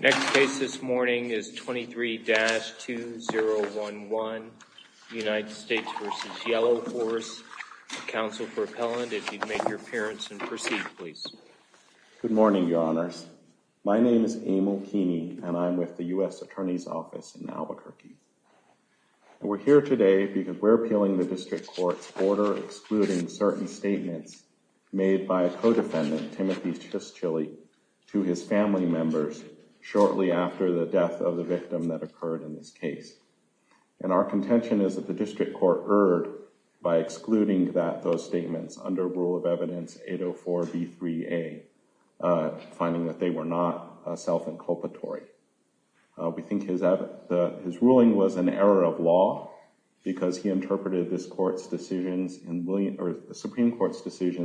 Next case this morning is 23-2011 United States v. Yellowhorse. Counsel for appellant, if you'd make your appearance and proceed, please. Good morning, your honors. My name is Emil Keeney and I'm with the U.S. Attorney's Office in Albuquerque. We're here today because we're appealing the district court's order excluding certain statements made by a co-defendant, Timothy Chistchilly, to his family members shortly after the death of the victim that occurred in this case. And our contention is that the district court erred by excluding those statements under Rule of Evidence 804b3a, finding that they were not self-inculpatory. We think his ruling was an error of law because he interpreted the Supreme Court's decision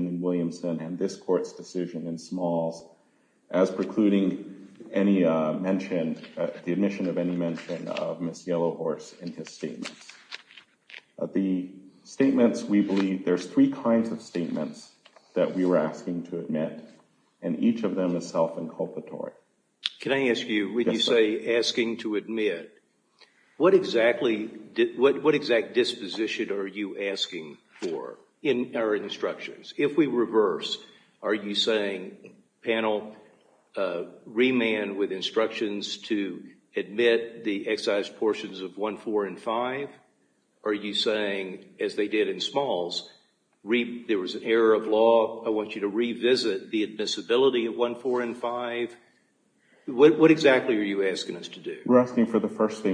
in Williamson and this court's decision in Smalls as precluding the admission of any mention of Ms. Yellowhorse in his statements. The statements we believe, there's three kinds of statements that we were asking to admit and each of them is self-inculpatory. Can I ask you, when you say asking to admit, what exactly, what exact disposition are you asking for in our instructions? If we reverse, are you saying, panel, remand with instructions to admit the excised portions of 1, 4, and 5? Are you saying, as they did in Smalls, there was an error of law, I want you to revisit the first thing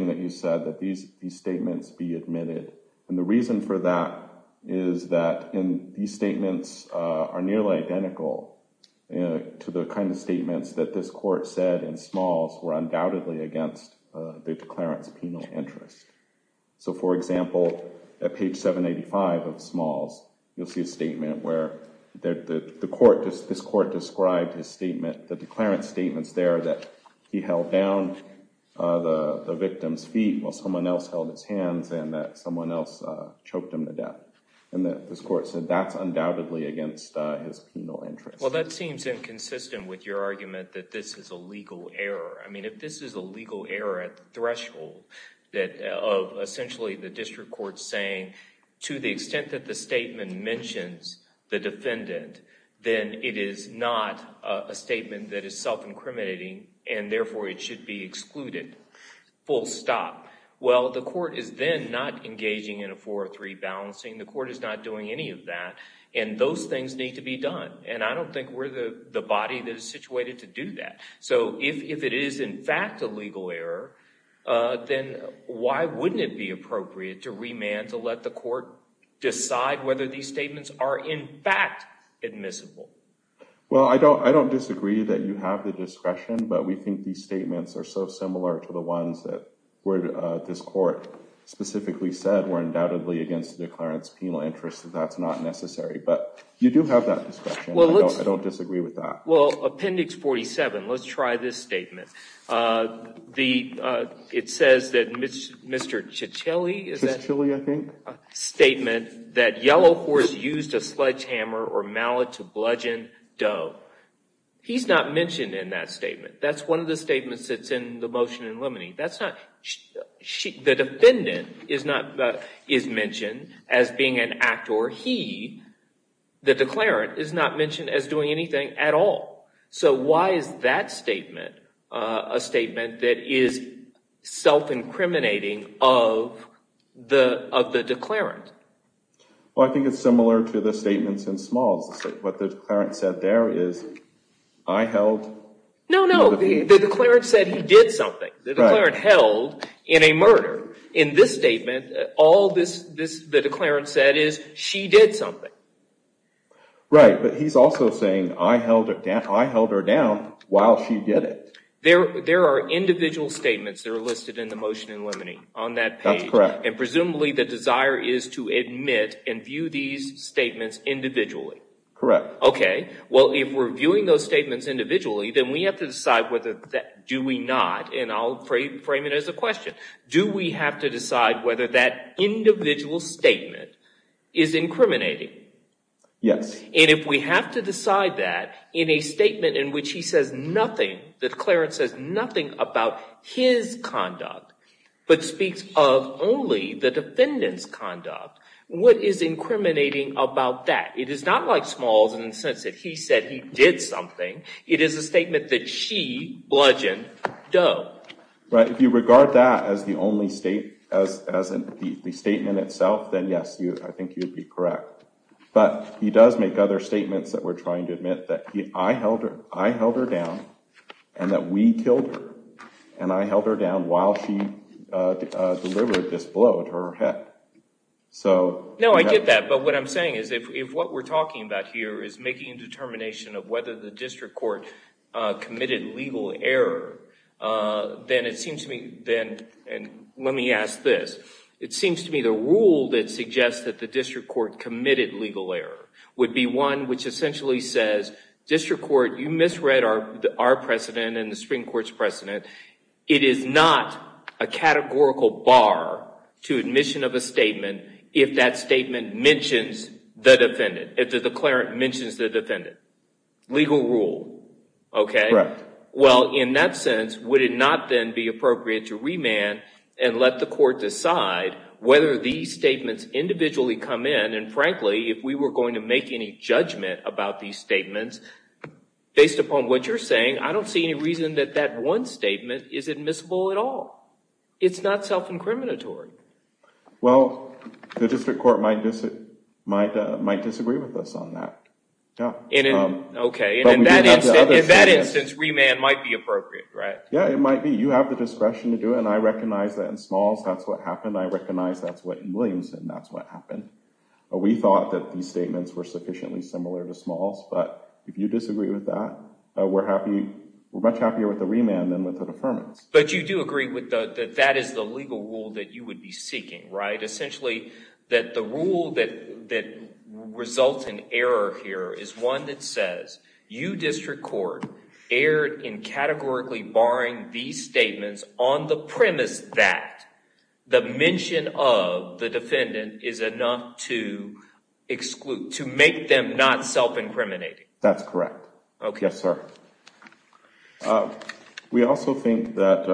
that you said, that these statements be admitted. And the reason for that is that these statements are nearly identical to the kind of statements that this court said in Smalls were undoubtedly against the declarant's penal interest. So, for example, at page 785 of Smalls, you'll see a statement where this court described his statement, the declarant's statements there that he held down the victim's feet while someone else held his hands and that someone else choked him to death. And this court said that's undoubtedly against his penal interest. Well, that seems inconsistent with your argument that this is a legal error. I mean, if this is a legal error at the threshold of essentially the district court saying, to the extent that the statement mentions the defendant, then it is not a statement that is self-incriminating and therefore it should be excluded, full stop. Well, the court is then not engaging in a 4 or 3 balancing. The court is not doing any of that. And those things need to be done. And I don't think we're the body that is situated to do that. So if it is in fact a legal error, then why wouldn't it be appropriate to remand, to let the court decide whether these But we think these statements are so similar to the ones that this court specifically said were undoubtedly against the declarant's penal interest that that's not necessary. But you do have that discretion. I don't disagree with that. Well, Appendix 47, let's try this statement. It says that Mr. Ciccilli, is that? Ciccilli, I think. Statement that Yellowhorse used a sledgehammer or mallet to bludgeon Doe. He's not mentioned in that statement. That's one of the statements that's in the motion in limine. The defendant is mentioned as being an act or he, the declarant, is not mentioned as doing anything at all. So why is that statement a statement that is self-incriminating of the declarant? Well, I think it's similar to the statements in Smalls. What the declarant said there is, I held. No, no. The declarant said he did something. The declarant held in a murder. In this statement, all the declarant said is she did something. Right. But he's also saying I held her down while she did it. There are individual statements that are listed in the motion in limine on that page. That's correct. And presumably the desire is to view those statements individually, then we have to decide whether that, do we not, and I'll frame it as a question. Do we have to decide whether that individual statement is incriminating? Yes. And if we have to decide that in a statement in which he says nothing, the declarant says nothing about his conduct, but speaks of only the defendant's conduct, what is incriminating about that? It is not like Smalls in the sense that he said he did something. It is a statement that she bludgeoned Doe. Right. If you regard that as the statement itself, then yes, I think you'd be correct. But he does make other statements that we're trying to admit that I held her down and that we killed her. And I held her down while she delivered this blow at her head. No, I get that. But what I'm saying is if what we're talking about here is making a determination of whether the district court committed legal error, then it seems to me, and let me ask this, it seems to me the rule that suggests that the district court committed legal error would be one which essentially says district court, you misread our precedent and a categorical bar to admission of a statement if that statement mentions the defendant, if the declarant mentions the defendant. Legal rule. Okay. Well, in that sense, would it not then be appropriate to remand and let the court decide whether these statements individually come in? And frankly, if we were going to make any judgment about these statements, based upon what you're saying, I don't see any reason that that one statement is admissible at all. It's not self-incriminatory. Well, the district court might disagree with us on that. Okay. In that instance, remand might be appropriate, right? Yeah, it might be. You have the discretion to do it. And I recognize that in Smalls, that's what happened. I recognize that's what in Williamson, that's what happened. We thought that these statements were sufficiently similar to Smalls. But if you disagree with that, we're much happier with the remand than with the deferments. But you do agree that that is the legal rule that you would be seeking, right? Essentially, that the rule that results in error here is one that says, you district court erred in categorically barring these statements on the premise that the mention of the defendant is enough to exclude, to make them not self-incriminating. That's correct. Okay. Yes, sir. We also think that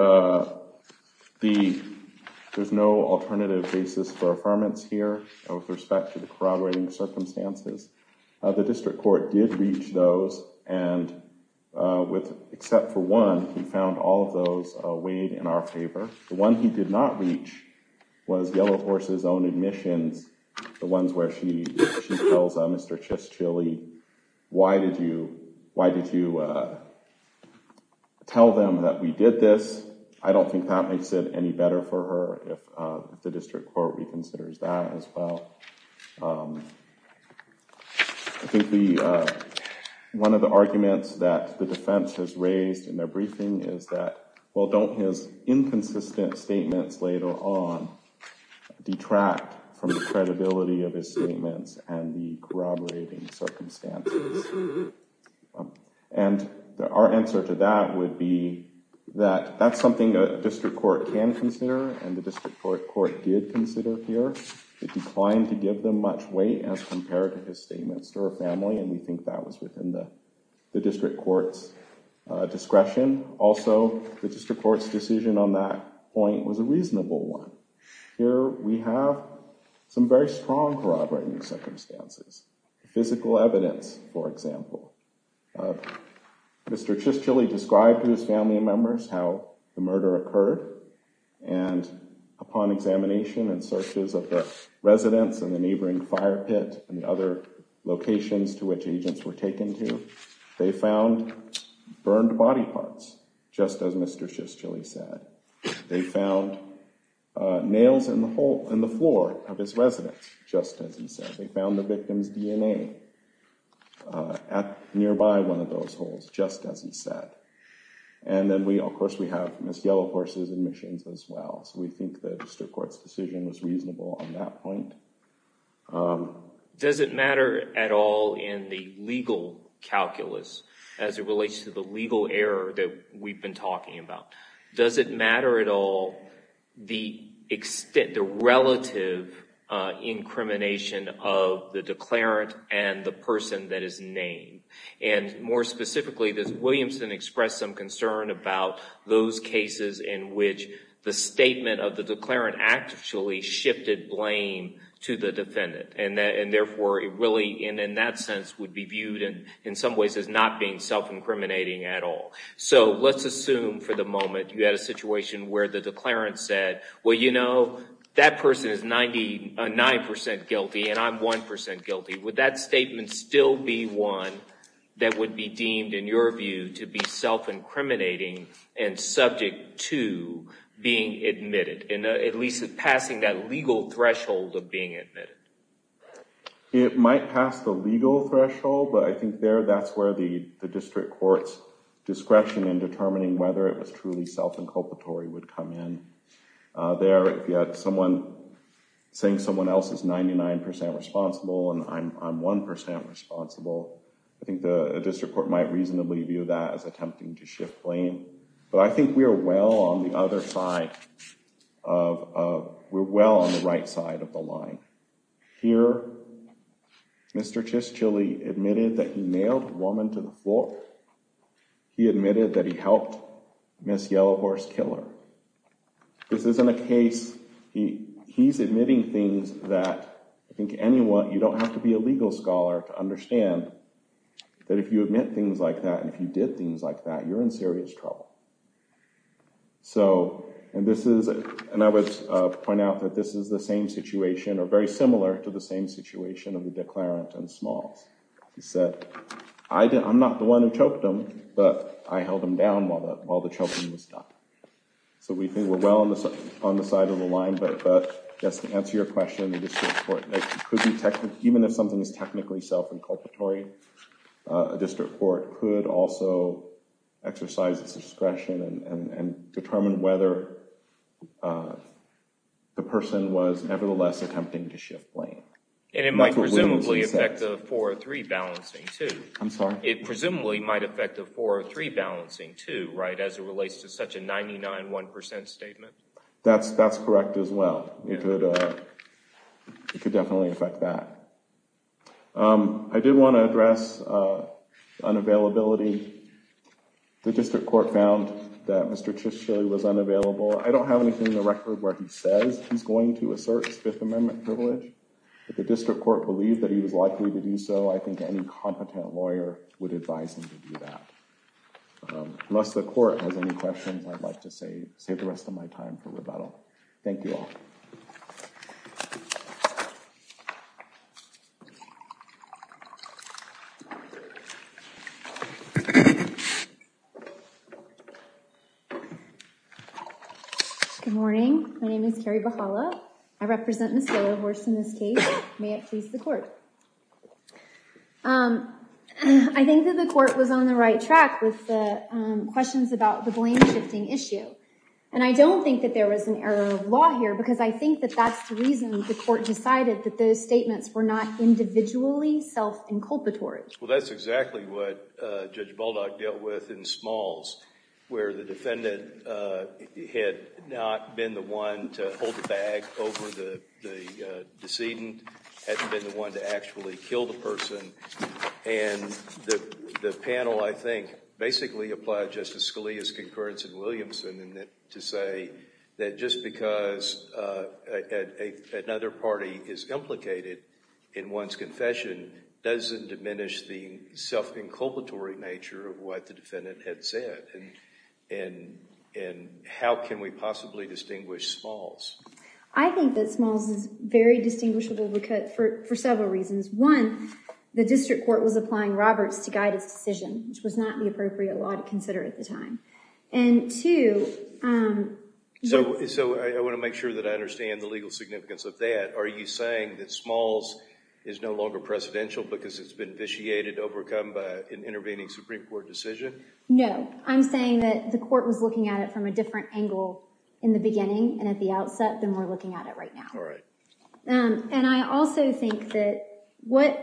there's no alternative basis for affirmance here with respect to the corroborating circumstances. The district court did reach those and with, except for one, he found all of those weighed in our favor. The one he did not reach was Yellow Horse's own admissions, the ones where she tells Mr. Chischilly, why did you tell them that we did this? I don't think that makes it any better for her if the district court reconsiders that as well. I think one of the arguments that the defense has raised in their briefing is that, well, don't his inconsistent statements later on detract from the credibility of his statements and the corroborating circumstances? And our answer to that would be that that's something a district court can consider and the district court did consider here. It declined to give them much weight as compared to his the district court's discretion. Also, the district court's decision on that point was a reasonable one. Here we have some very strong corroborating circumstances, physical evidence, for example. Mr. Chischilly described to his family members how the murder occurred and upon examination and searches of the residence and the neighboring fire pit and the other locations to which agents were taken to, they found burned body parts, just as Mr. Chischilly said. They found nails in the floor of his residence, just as he said. They found the victim's DNA at nearby one of those holes, just as he said. And then, of course, we have Ms. Yellow Horse's admissions as well, so we think the district court's decision was correct. Does it matter at all in the legal calculus as it relates to the legal error that we've been talking about? Does it matter at all the relative incrimination of the declarant and the person that is named? And more specifically, does Williamson express some concern about those cases in which the statement of the declarant actually shifted blame to the defendant and therefore it really, in that sense, would be viewed in some ways as not being self-incriminating at all? So let's assume for the moment you had a situation where the declarant said, well, you know, that person is 99 percent guilty and I'm 1 percent guilty. Would that statement still be one that would be deemed, in your view, to be self-incriminating and subject to being admitted? It might pass the legal threshold, but I think there that's where the district court's discretion in determining whether it was truly self-inculpatory would come in. There, if you had someone saying someone else is 99 percent responsible and I'm 1 percent responsible, I think the district court might reasonably view that as attempting to shift blame. But I think we are well on the other side of, we're well on the right side of the line. Here, Mr. Chischilly admitted that he nailed a woman to the floor. He admitted that he helped Miss Yellowhorse kill her. This isn't a case, he's admitting things that I think anyone, you don't have to be a legal scholar to understand that if you admit things like that and if you did things like that, you're in serious trouble. So, and this is, and I would point out that this is the same situation or very similar to the same situation of the Declarent and Smalls. He said, I'm not the one who choked them, but I held them down while the choking was done. So we think we're well on the side of the line, but just to answer your question, the district court, even if something is technically self-incarceratory, a district court could also exercise its discretion and determine whether the person was nevertheless attempting to shift blame. And it might presumably affect the 403 balancing too. I'm sorry? It presumably might affect the 403 balancing too, right, as it relates to such a 99.1 percent statement. That's correct as well. It could definitely affect that. I did want to address unavailability. The district court found that Mr. Chisholm was unavailable. I don't have anything in the record where he says he's going to assert his Fifth Amendment privilege, but the district court believed that he was likely to do so. I think any competent lawyer would advise him to do that. Unless the court has any questions, I'd like to save the rest of my time for rebuttal. Thank you all. Good morning. My name is Kari Bahala. I represent Nostello Horse in this case. May it please the court. I think that the court was on the right track with the questions about the blame shifting issue. And I don't think that there was an error of law here, because I think that that's the reason the court decided that those statements were not individually self-inculpatory. Well, that's exactly what Judge Baldock dealt with in Smalls, where the defendant had not been the one to hold the bag over the decedent, had been the one to actually kill the person. And the panel, I think, basically applied Justice Scalia's concurrence in Williamson to say that just because another party is implicated in one's confession doesn't diminish the self-inculpatory nature of what the defendant had said. And how can we possibly distinguish Smalls? I think that Smalls is very distinguishable for several reasons. One, the district court was applying Roberts to guide his decision, which was not the appropriate law to consider at the time. And two— So I want to make sure that I understand the legal significance of that. Are you saying that Smalls is no longer precedential because it's been vitiated, overcome by an intervening Supreme Court decision? No. I'm saying that the court was looking at it from a different angle in the beginning and at the outset than we're looking at it right now. And I also think that what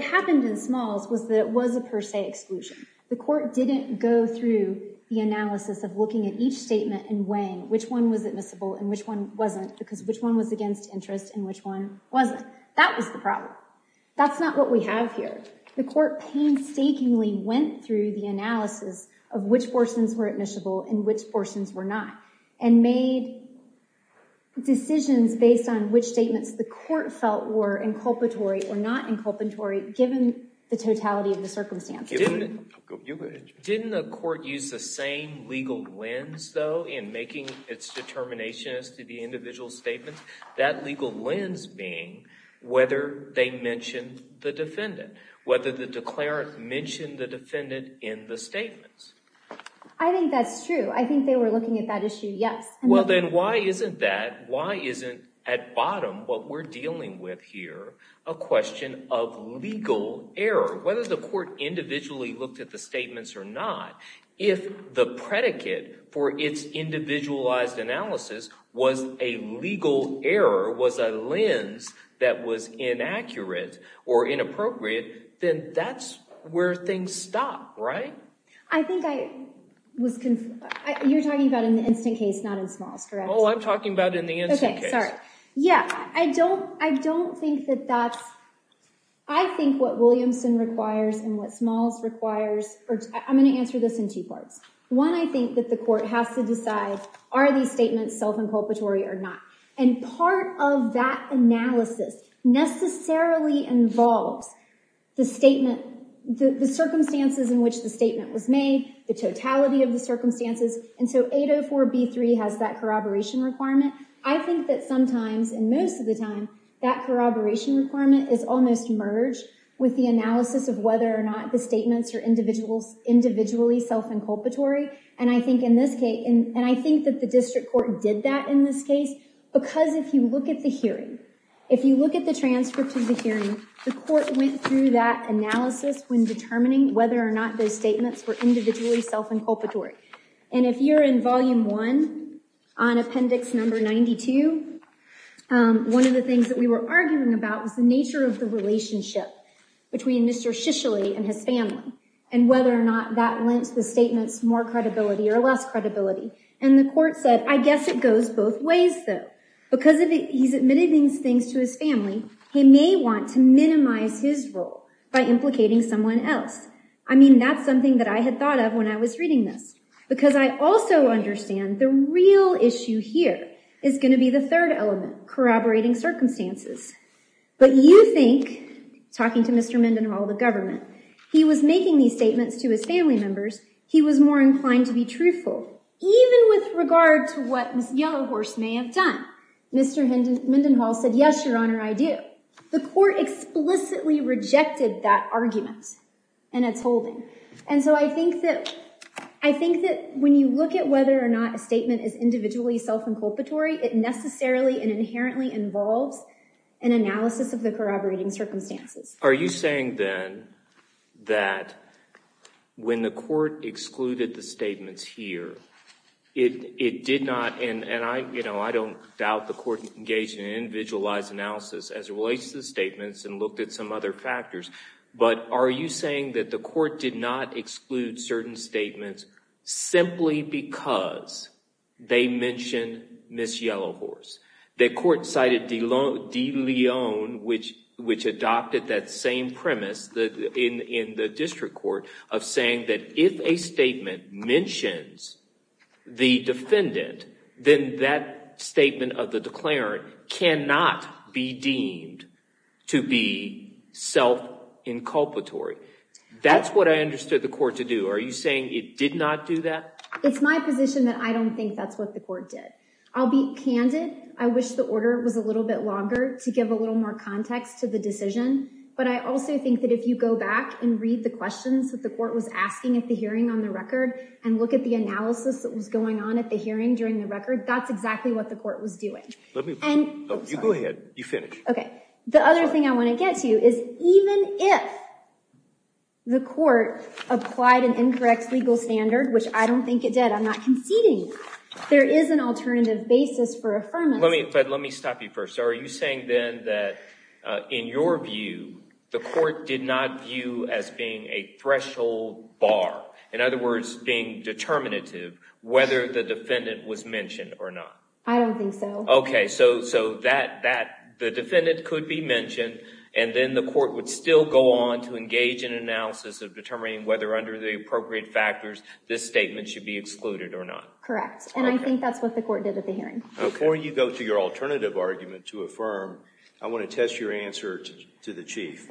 happened in Smalls was that it was a per se exclusion. The court didn't go through the analysis of looking at each statement and weighing which one was admissible and which one wasn't because which one was against interest and which one wasn't. That was the problem. That's not what we have here. The court painstakingly went through the analysis of which portions were admissible and which portions were not and made decisions based on which statements the court felt were inculpatory or not inculpatory given the totality of the circumstances. You go ahead, Jim. Didn't the court use the same legal lens, though, in making its determination as to the individual statements? That legal lens being whether they mentioned the defendant, whether the declarant mentioned the defendant in the statements. I think that's true. I think they were looking at that issue, yes. Well, then why isn't that, why isn't at bottom what we're dealing with here a question of legal error? Whether the court individually looked at the statements or not, if the predicate for its individualized analysis was a legal error, was a lens that was inaccurate or inappropriate, then that's where things stop, right? I think I was, you're talking about in the instant case, not in Smalls, correct? Yeah, I don't think that that's, I think what Williamson requires and what Smalls requires, or I'm going to answer this in two parts. One, I think that the court has to decide are these statements self-inculpatory or not? And part of that analysis necessarily involves the statement, the circumstances in which the statement was made, the totality of the that sometimes, and most of the time, that corroboration requirement is almost merged with the analysis of whether or not the statements are individually self-inculpatory. And I think in this case, and I think that the district court did that in this case, because if you look at the hearing, if you look at the transcript of the hearing, the court went through that analysis when determining whether or not those statements were individually self-inculpatory. And if you're in volume one, on appendix number 92, one of the things that we were arguing about was the nature of the relationship between Mr. Shisholi and his family, and whether or not that lent the statements more credibility or less credibility. And the court said, I guess it goes both ways, though. Because he's admitted these things to his family, he may want to minimize his role by implicating someone else. I mean, that's something that I had thought of when I was reading this. Because I also understand the real issue here is going to be the third element, corroborating circumstances. But you think, talking to Mr. Mendenhall, the government, he was making these statements to his family members, he was more inclined to be truthful. Even with regard to what Ms. Yellowhorse may have done, Mr. Mendenhall said, yes, your honor, I do. The court explicitly rejected that argument in its holding. And so I think that when you look at whether or not a statement is individually self-inculpatory, it necessarily and inherently involves an analysis of the corroborating circumstances. Are you saying, then, that when the court excluded the statements here, it did not, and I don't doubt the court engaged in statements and looked at some other factors, but are you saying that the court did not exclude certain statements simply because they mentioned Ms. Yellowhorse? The court cited De Leon, which adopted that same premise in the district court of saying that if a statement mentions the defendant, then that statement of the declarant cannot be deemed to be self-inculpatory. That's what I understood the court to do. Are you saying it did not do that? It's my position that I don't think that's what the court did. I'll be candid. I wish the order was a little bit longer to give a little more context to the decision. But I also think that if you go back and read the questions that the court was asking at the hearing on the record and look at the analysis that was going on at the hearing during the record, that's exactly what the court was doing. You go ahead. You finish. Okay. The other thing I want to get to you is even if the court applied an incorrect legal standard, which I don't think it did, I'm not conceding, there is an alternative basis for affirmation. Let me stop you first. Are you the court did not view as being a threshold bar? In other words, being determinative, whether the defendant was mentioned or not? I don't think so. Okay. So the defendant could be mentioned and then the court would still go on to engage in analysis of determining whether under the appropriate factors, this statement should be excluded or not. Correct. And I think that's what the court did at the hearing. Before you go to your alternative argument to affirm, I want to test your answer to the chief.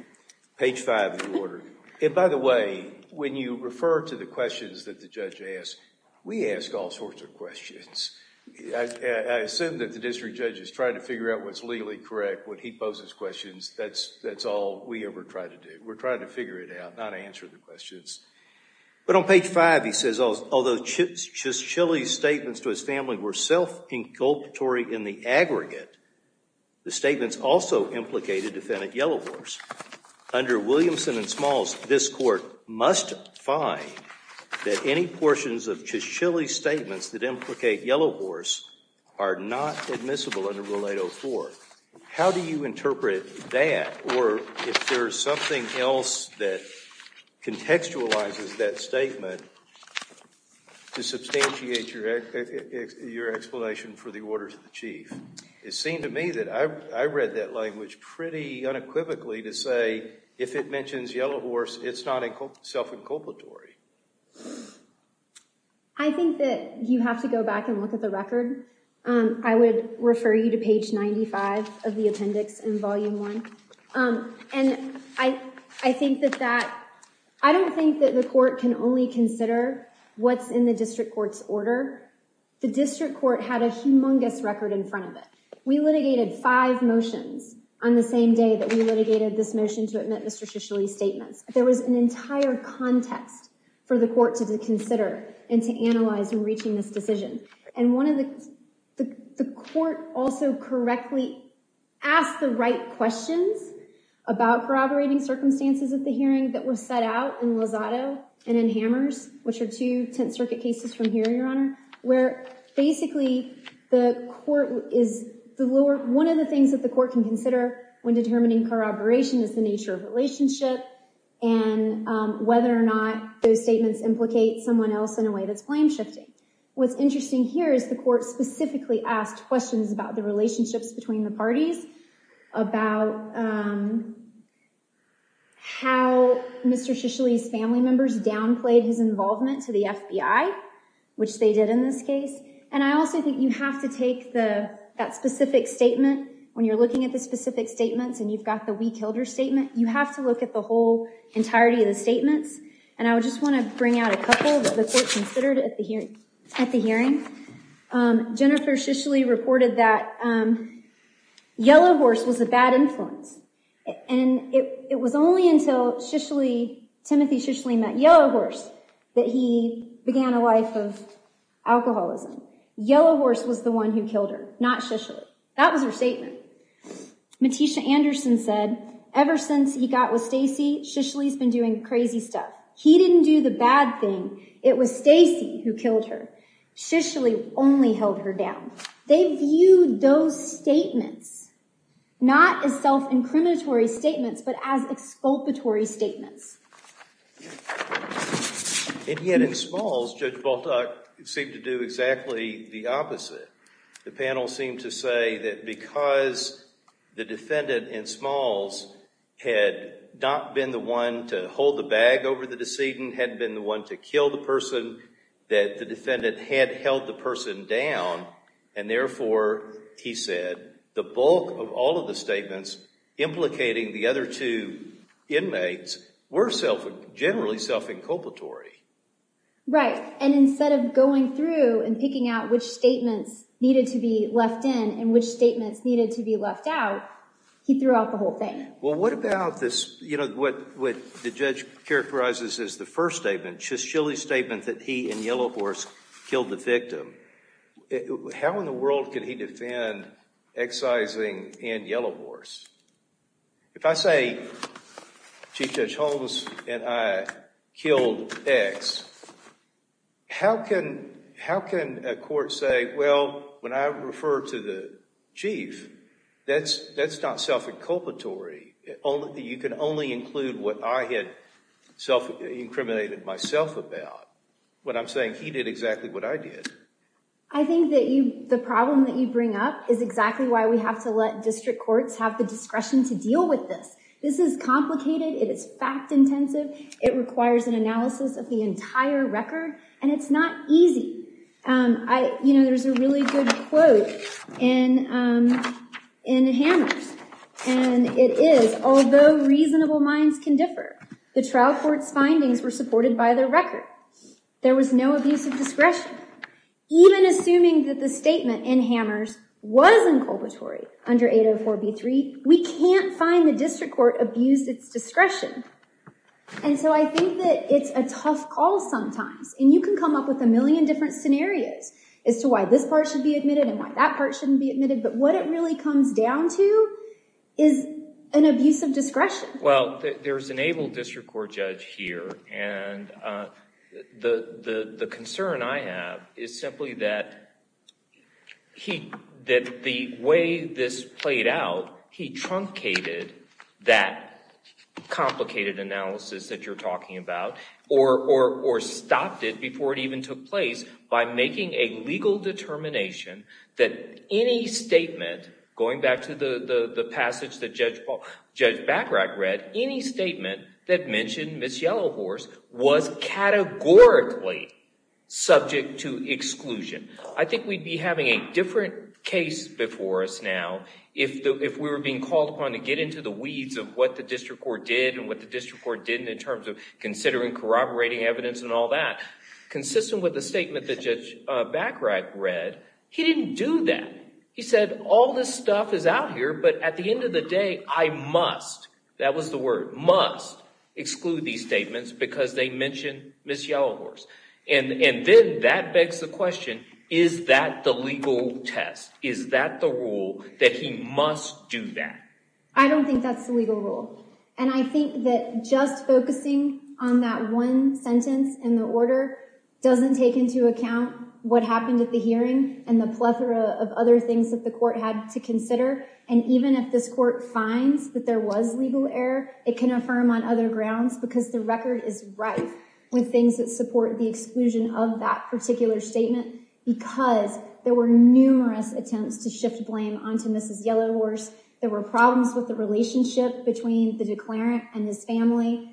Page five of the order. And by the way, when you refer to the questions that the judge asks, we ask all sorts of questions. I assume that the district judge is trying to figure out what's legally correct, what he poses questions. That's all we ever try to do. We're trying to figure it out, not answer the questions. But on page five, he says, although Chilly's statements to his family were self-inculpatory in the aggregate, the statements also implicated defendant Yellowhorse. Under Williamson and Smalls, this court must find that any portions of Chilly's statements that implicate Yellowhorse are not admissible under Rule 804. How do you interpret that? Or if there's something else that it seemed to me that I read that language pretty unequivocally to say, if it mentions Yellowhorse, it's not self-inculpatory. I think that you have to go back and look at the record. I would refer you to page 95 of the appendix in volume one. And I think that that, I don't think that the court can only consider what's in the district court's order. The district court had a humongous record in front of it. We litigated five motions on the same day that we litigated this motion to admit Mr. Chilly's statements. There was an entire context for the court to consider and to analyze in reaching this decision. And the court also correctly asked the right questions about corroborating circumstances at the hearing that were set out in Lozado and in Hammers, which are two Tenth Circuit cases from here, Your Honor, where basically the court is, one of the things that the court can consider when determining corroboration is the nature of relationship and whether or not those statements implicate someone else in a way that's blame-shifting. What's interesting here is the court specifically asked questions about the relationships between the parties, about how Mr. Chisholm's family members downplayed his involvement to the FBI, which they did in this case. And I also think you have to take that specific statement, when you're looking at the specific statements and you've got the we killed her statement, you have to look at the whole entirety of the statements. And I would just want to bring out a couple that the court considered at the hearing. Jennifer Shishley reported that Yellow Horse was a bad influence. And it was only until Shishley, Timothy Shishley met Yellow Horse that he began a life of alcoholism. Yellow Horse was the one who killed her, not Shishley. That was her statement. Matisha Anderson said, ever since he got with Stacy, Shishley's been doing crazy stuff. He didn't do the bad thing. It was Stacy who killed her. Shishley only held her down. They viewed those statements not as self-incriminatory statements, but as exculpatory statements. And yet in Smalls, Judge Baltuck seemed to do exactly the opposite. The panel seemed to say that because the defendant in Smalls had not been the one to hold the bag over the decedent, hadn't been the one to kill the person, that the defendant had held the person down. And therefore, he said, the bulk of all of the statements implicating the other two inmates were generally self-inculpatory. Right. And instead of going through and picking out which statements needed to be left in and which statements needed to be left out, he threw out the whole thing. Well, what about this, you know, what the judge characterizes as the first statement, Shishley's statement that he and Yellow Horse killed the victim. How in the world can he defend excising and Yellow Horse? If I say Chief Judge Holmes and I killed X, how can a court say, well, when I refer to the chief, that's not self-inculpatory. You can only include what I had self-incriminated myself about when I'm saying he did exactly what I did. I think that the problem that you bring up is exactly why we have to let district courts have the discretion to deal with this. This is complicated. It is fact intensive. It requires an analysis of the entire record. And it's not easy. You know, there's a really good quote in Hammers. And it is, although reasonable minds can differ, the trial court's findings were supported by their record. There was no abuse of discretion. Even assuming that the statement in Hammers was inculpatory under 804b3, we can't find the district court abused its discretion. And so I think that it's a tough call sometimes. And you can come up with a million different scenarios as to why this part should be admitted and why that part shouldn't be admitted. But what it really comes down to is an abuse of discretion. Well, there's an able district court judge here. And the concern I have is simply that the way this played out, he truncated that complicated analysis that you're talking about or stopped it before it even took place by making a legal determination that any statement, going back to the passage that Judge Bachrach read, any statement that mentioned Ms. Yellowhorse was categorically subject to exclusion. I think we'd be having a different case before us now if we were being called upon to get into the weeds of what the district court did and what the district court didn't in terms of considering corroborating evidence and all that. Consistent with the statement that Judge Bachrach read, he didn't do that. He said, all this stuff is out here, but at the end of the day, I must, that was the word, must exclude these statements because they mention Ms. Yellowhorse. And then that begs the question, is that the legal test? Is that the rule that he must do that? I don't think that's the legal rule. And I think that just focusing on that one sentence in the order doesn't take into account what happened at the hearing and the plethora of other things that the court had to consider. And even if this court finds that there was legal error, it can affirm on other grounds because the record is rife with things that support the exclusion of that particular statement because there were numerous attempts to shift blame onto Ms. Yellowhorse. There were problems with the relationship between the declarant and his family.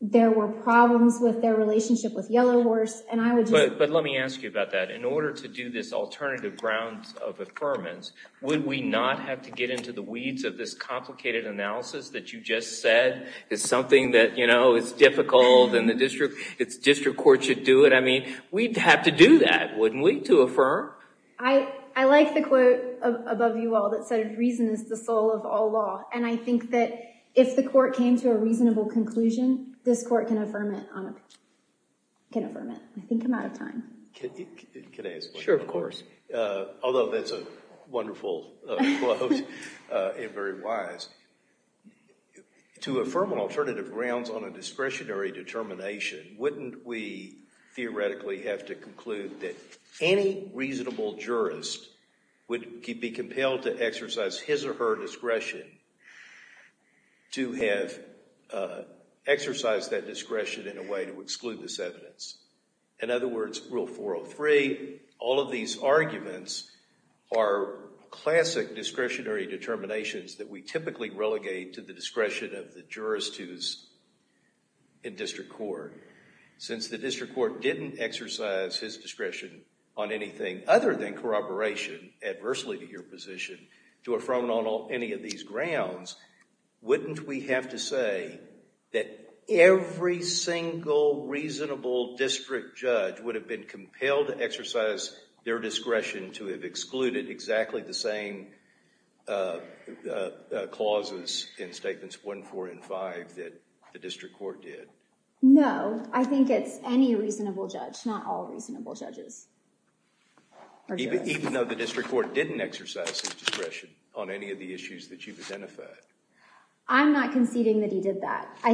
There were problems with their relationship with Yellowhorse. But let me ask you about that. In order to do this alternative grounds of affirmance, would we not have to get into the weeds of this complicated analysis that you just said is something that is difficult and the district court should do it? I mean, we'd have to do that, wouldn't we, to affirm? I like the quote above you all that said, reason is the soul of all law. And I think that if the court came to a reasonable conclusion, this court can affirm it. I think I'm out of time. Can I ask one more? Sure, of course. Although that's a wonderful quote and very wise. To affirm on alternative grounds on a discretionary determination, wouldn't we theoretically have to conclude that any reasonable jurist would be compelled to exercise his or her discretion to have exercised that discretion in a way to exclude this evidence? In other words, Rule 403, all of these arguments are classic discretionary determinations that we typically relegate to the discretion of the jurist who's in district court. Since the district court didn't exercise his discretion on anything other than corroboration, adversely to your position, to affirm on any of these grounds, wouldn't we have to say that every single reasonable district judge would have been compelled to exercise their discretion to have excluded exactly the same clauses in Statements 1, 4, and 5 that the district court did? No, I think it's any reasonable judge, not all reasonable judges. Even though the district court didn't exercise his discretion on any of the issues that you've I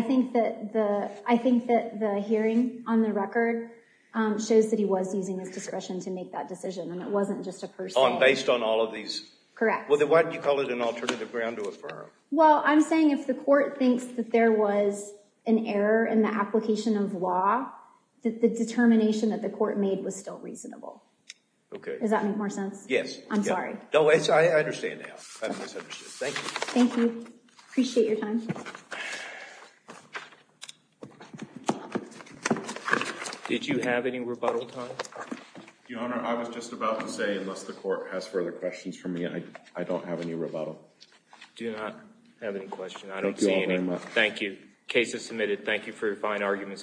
think that the hearing on the record shows that he was using his discretion to make that decision, and it wasn't just a person. Based on all of these? Correct. Well, why did you call it an alternative ground to affirm? Well, I'm saying if the court thinks that there was an error in the application of law, that the determination that the court made was still reasonable. Okay. Does that make more sense? Yes. I'm sorry. No, I understand now. Thank you. Thank you. Appreciate your time. Did you have any rebuttal time? Your Honor, I was just about to say unless the court has further questions for me, I don't have any rebuttal. Do not have any questions. I don't see any. Thank you all very much. Thank you. Case is submitted. Thank you for your fine arguments, counsel.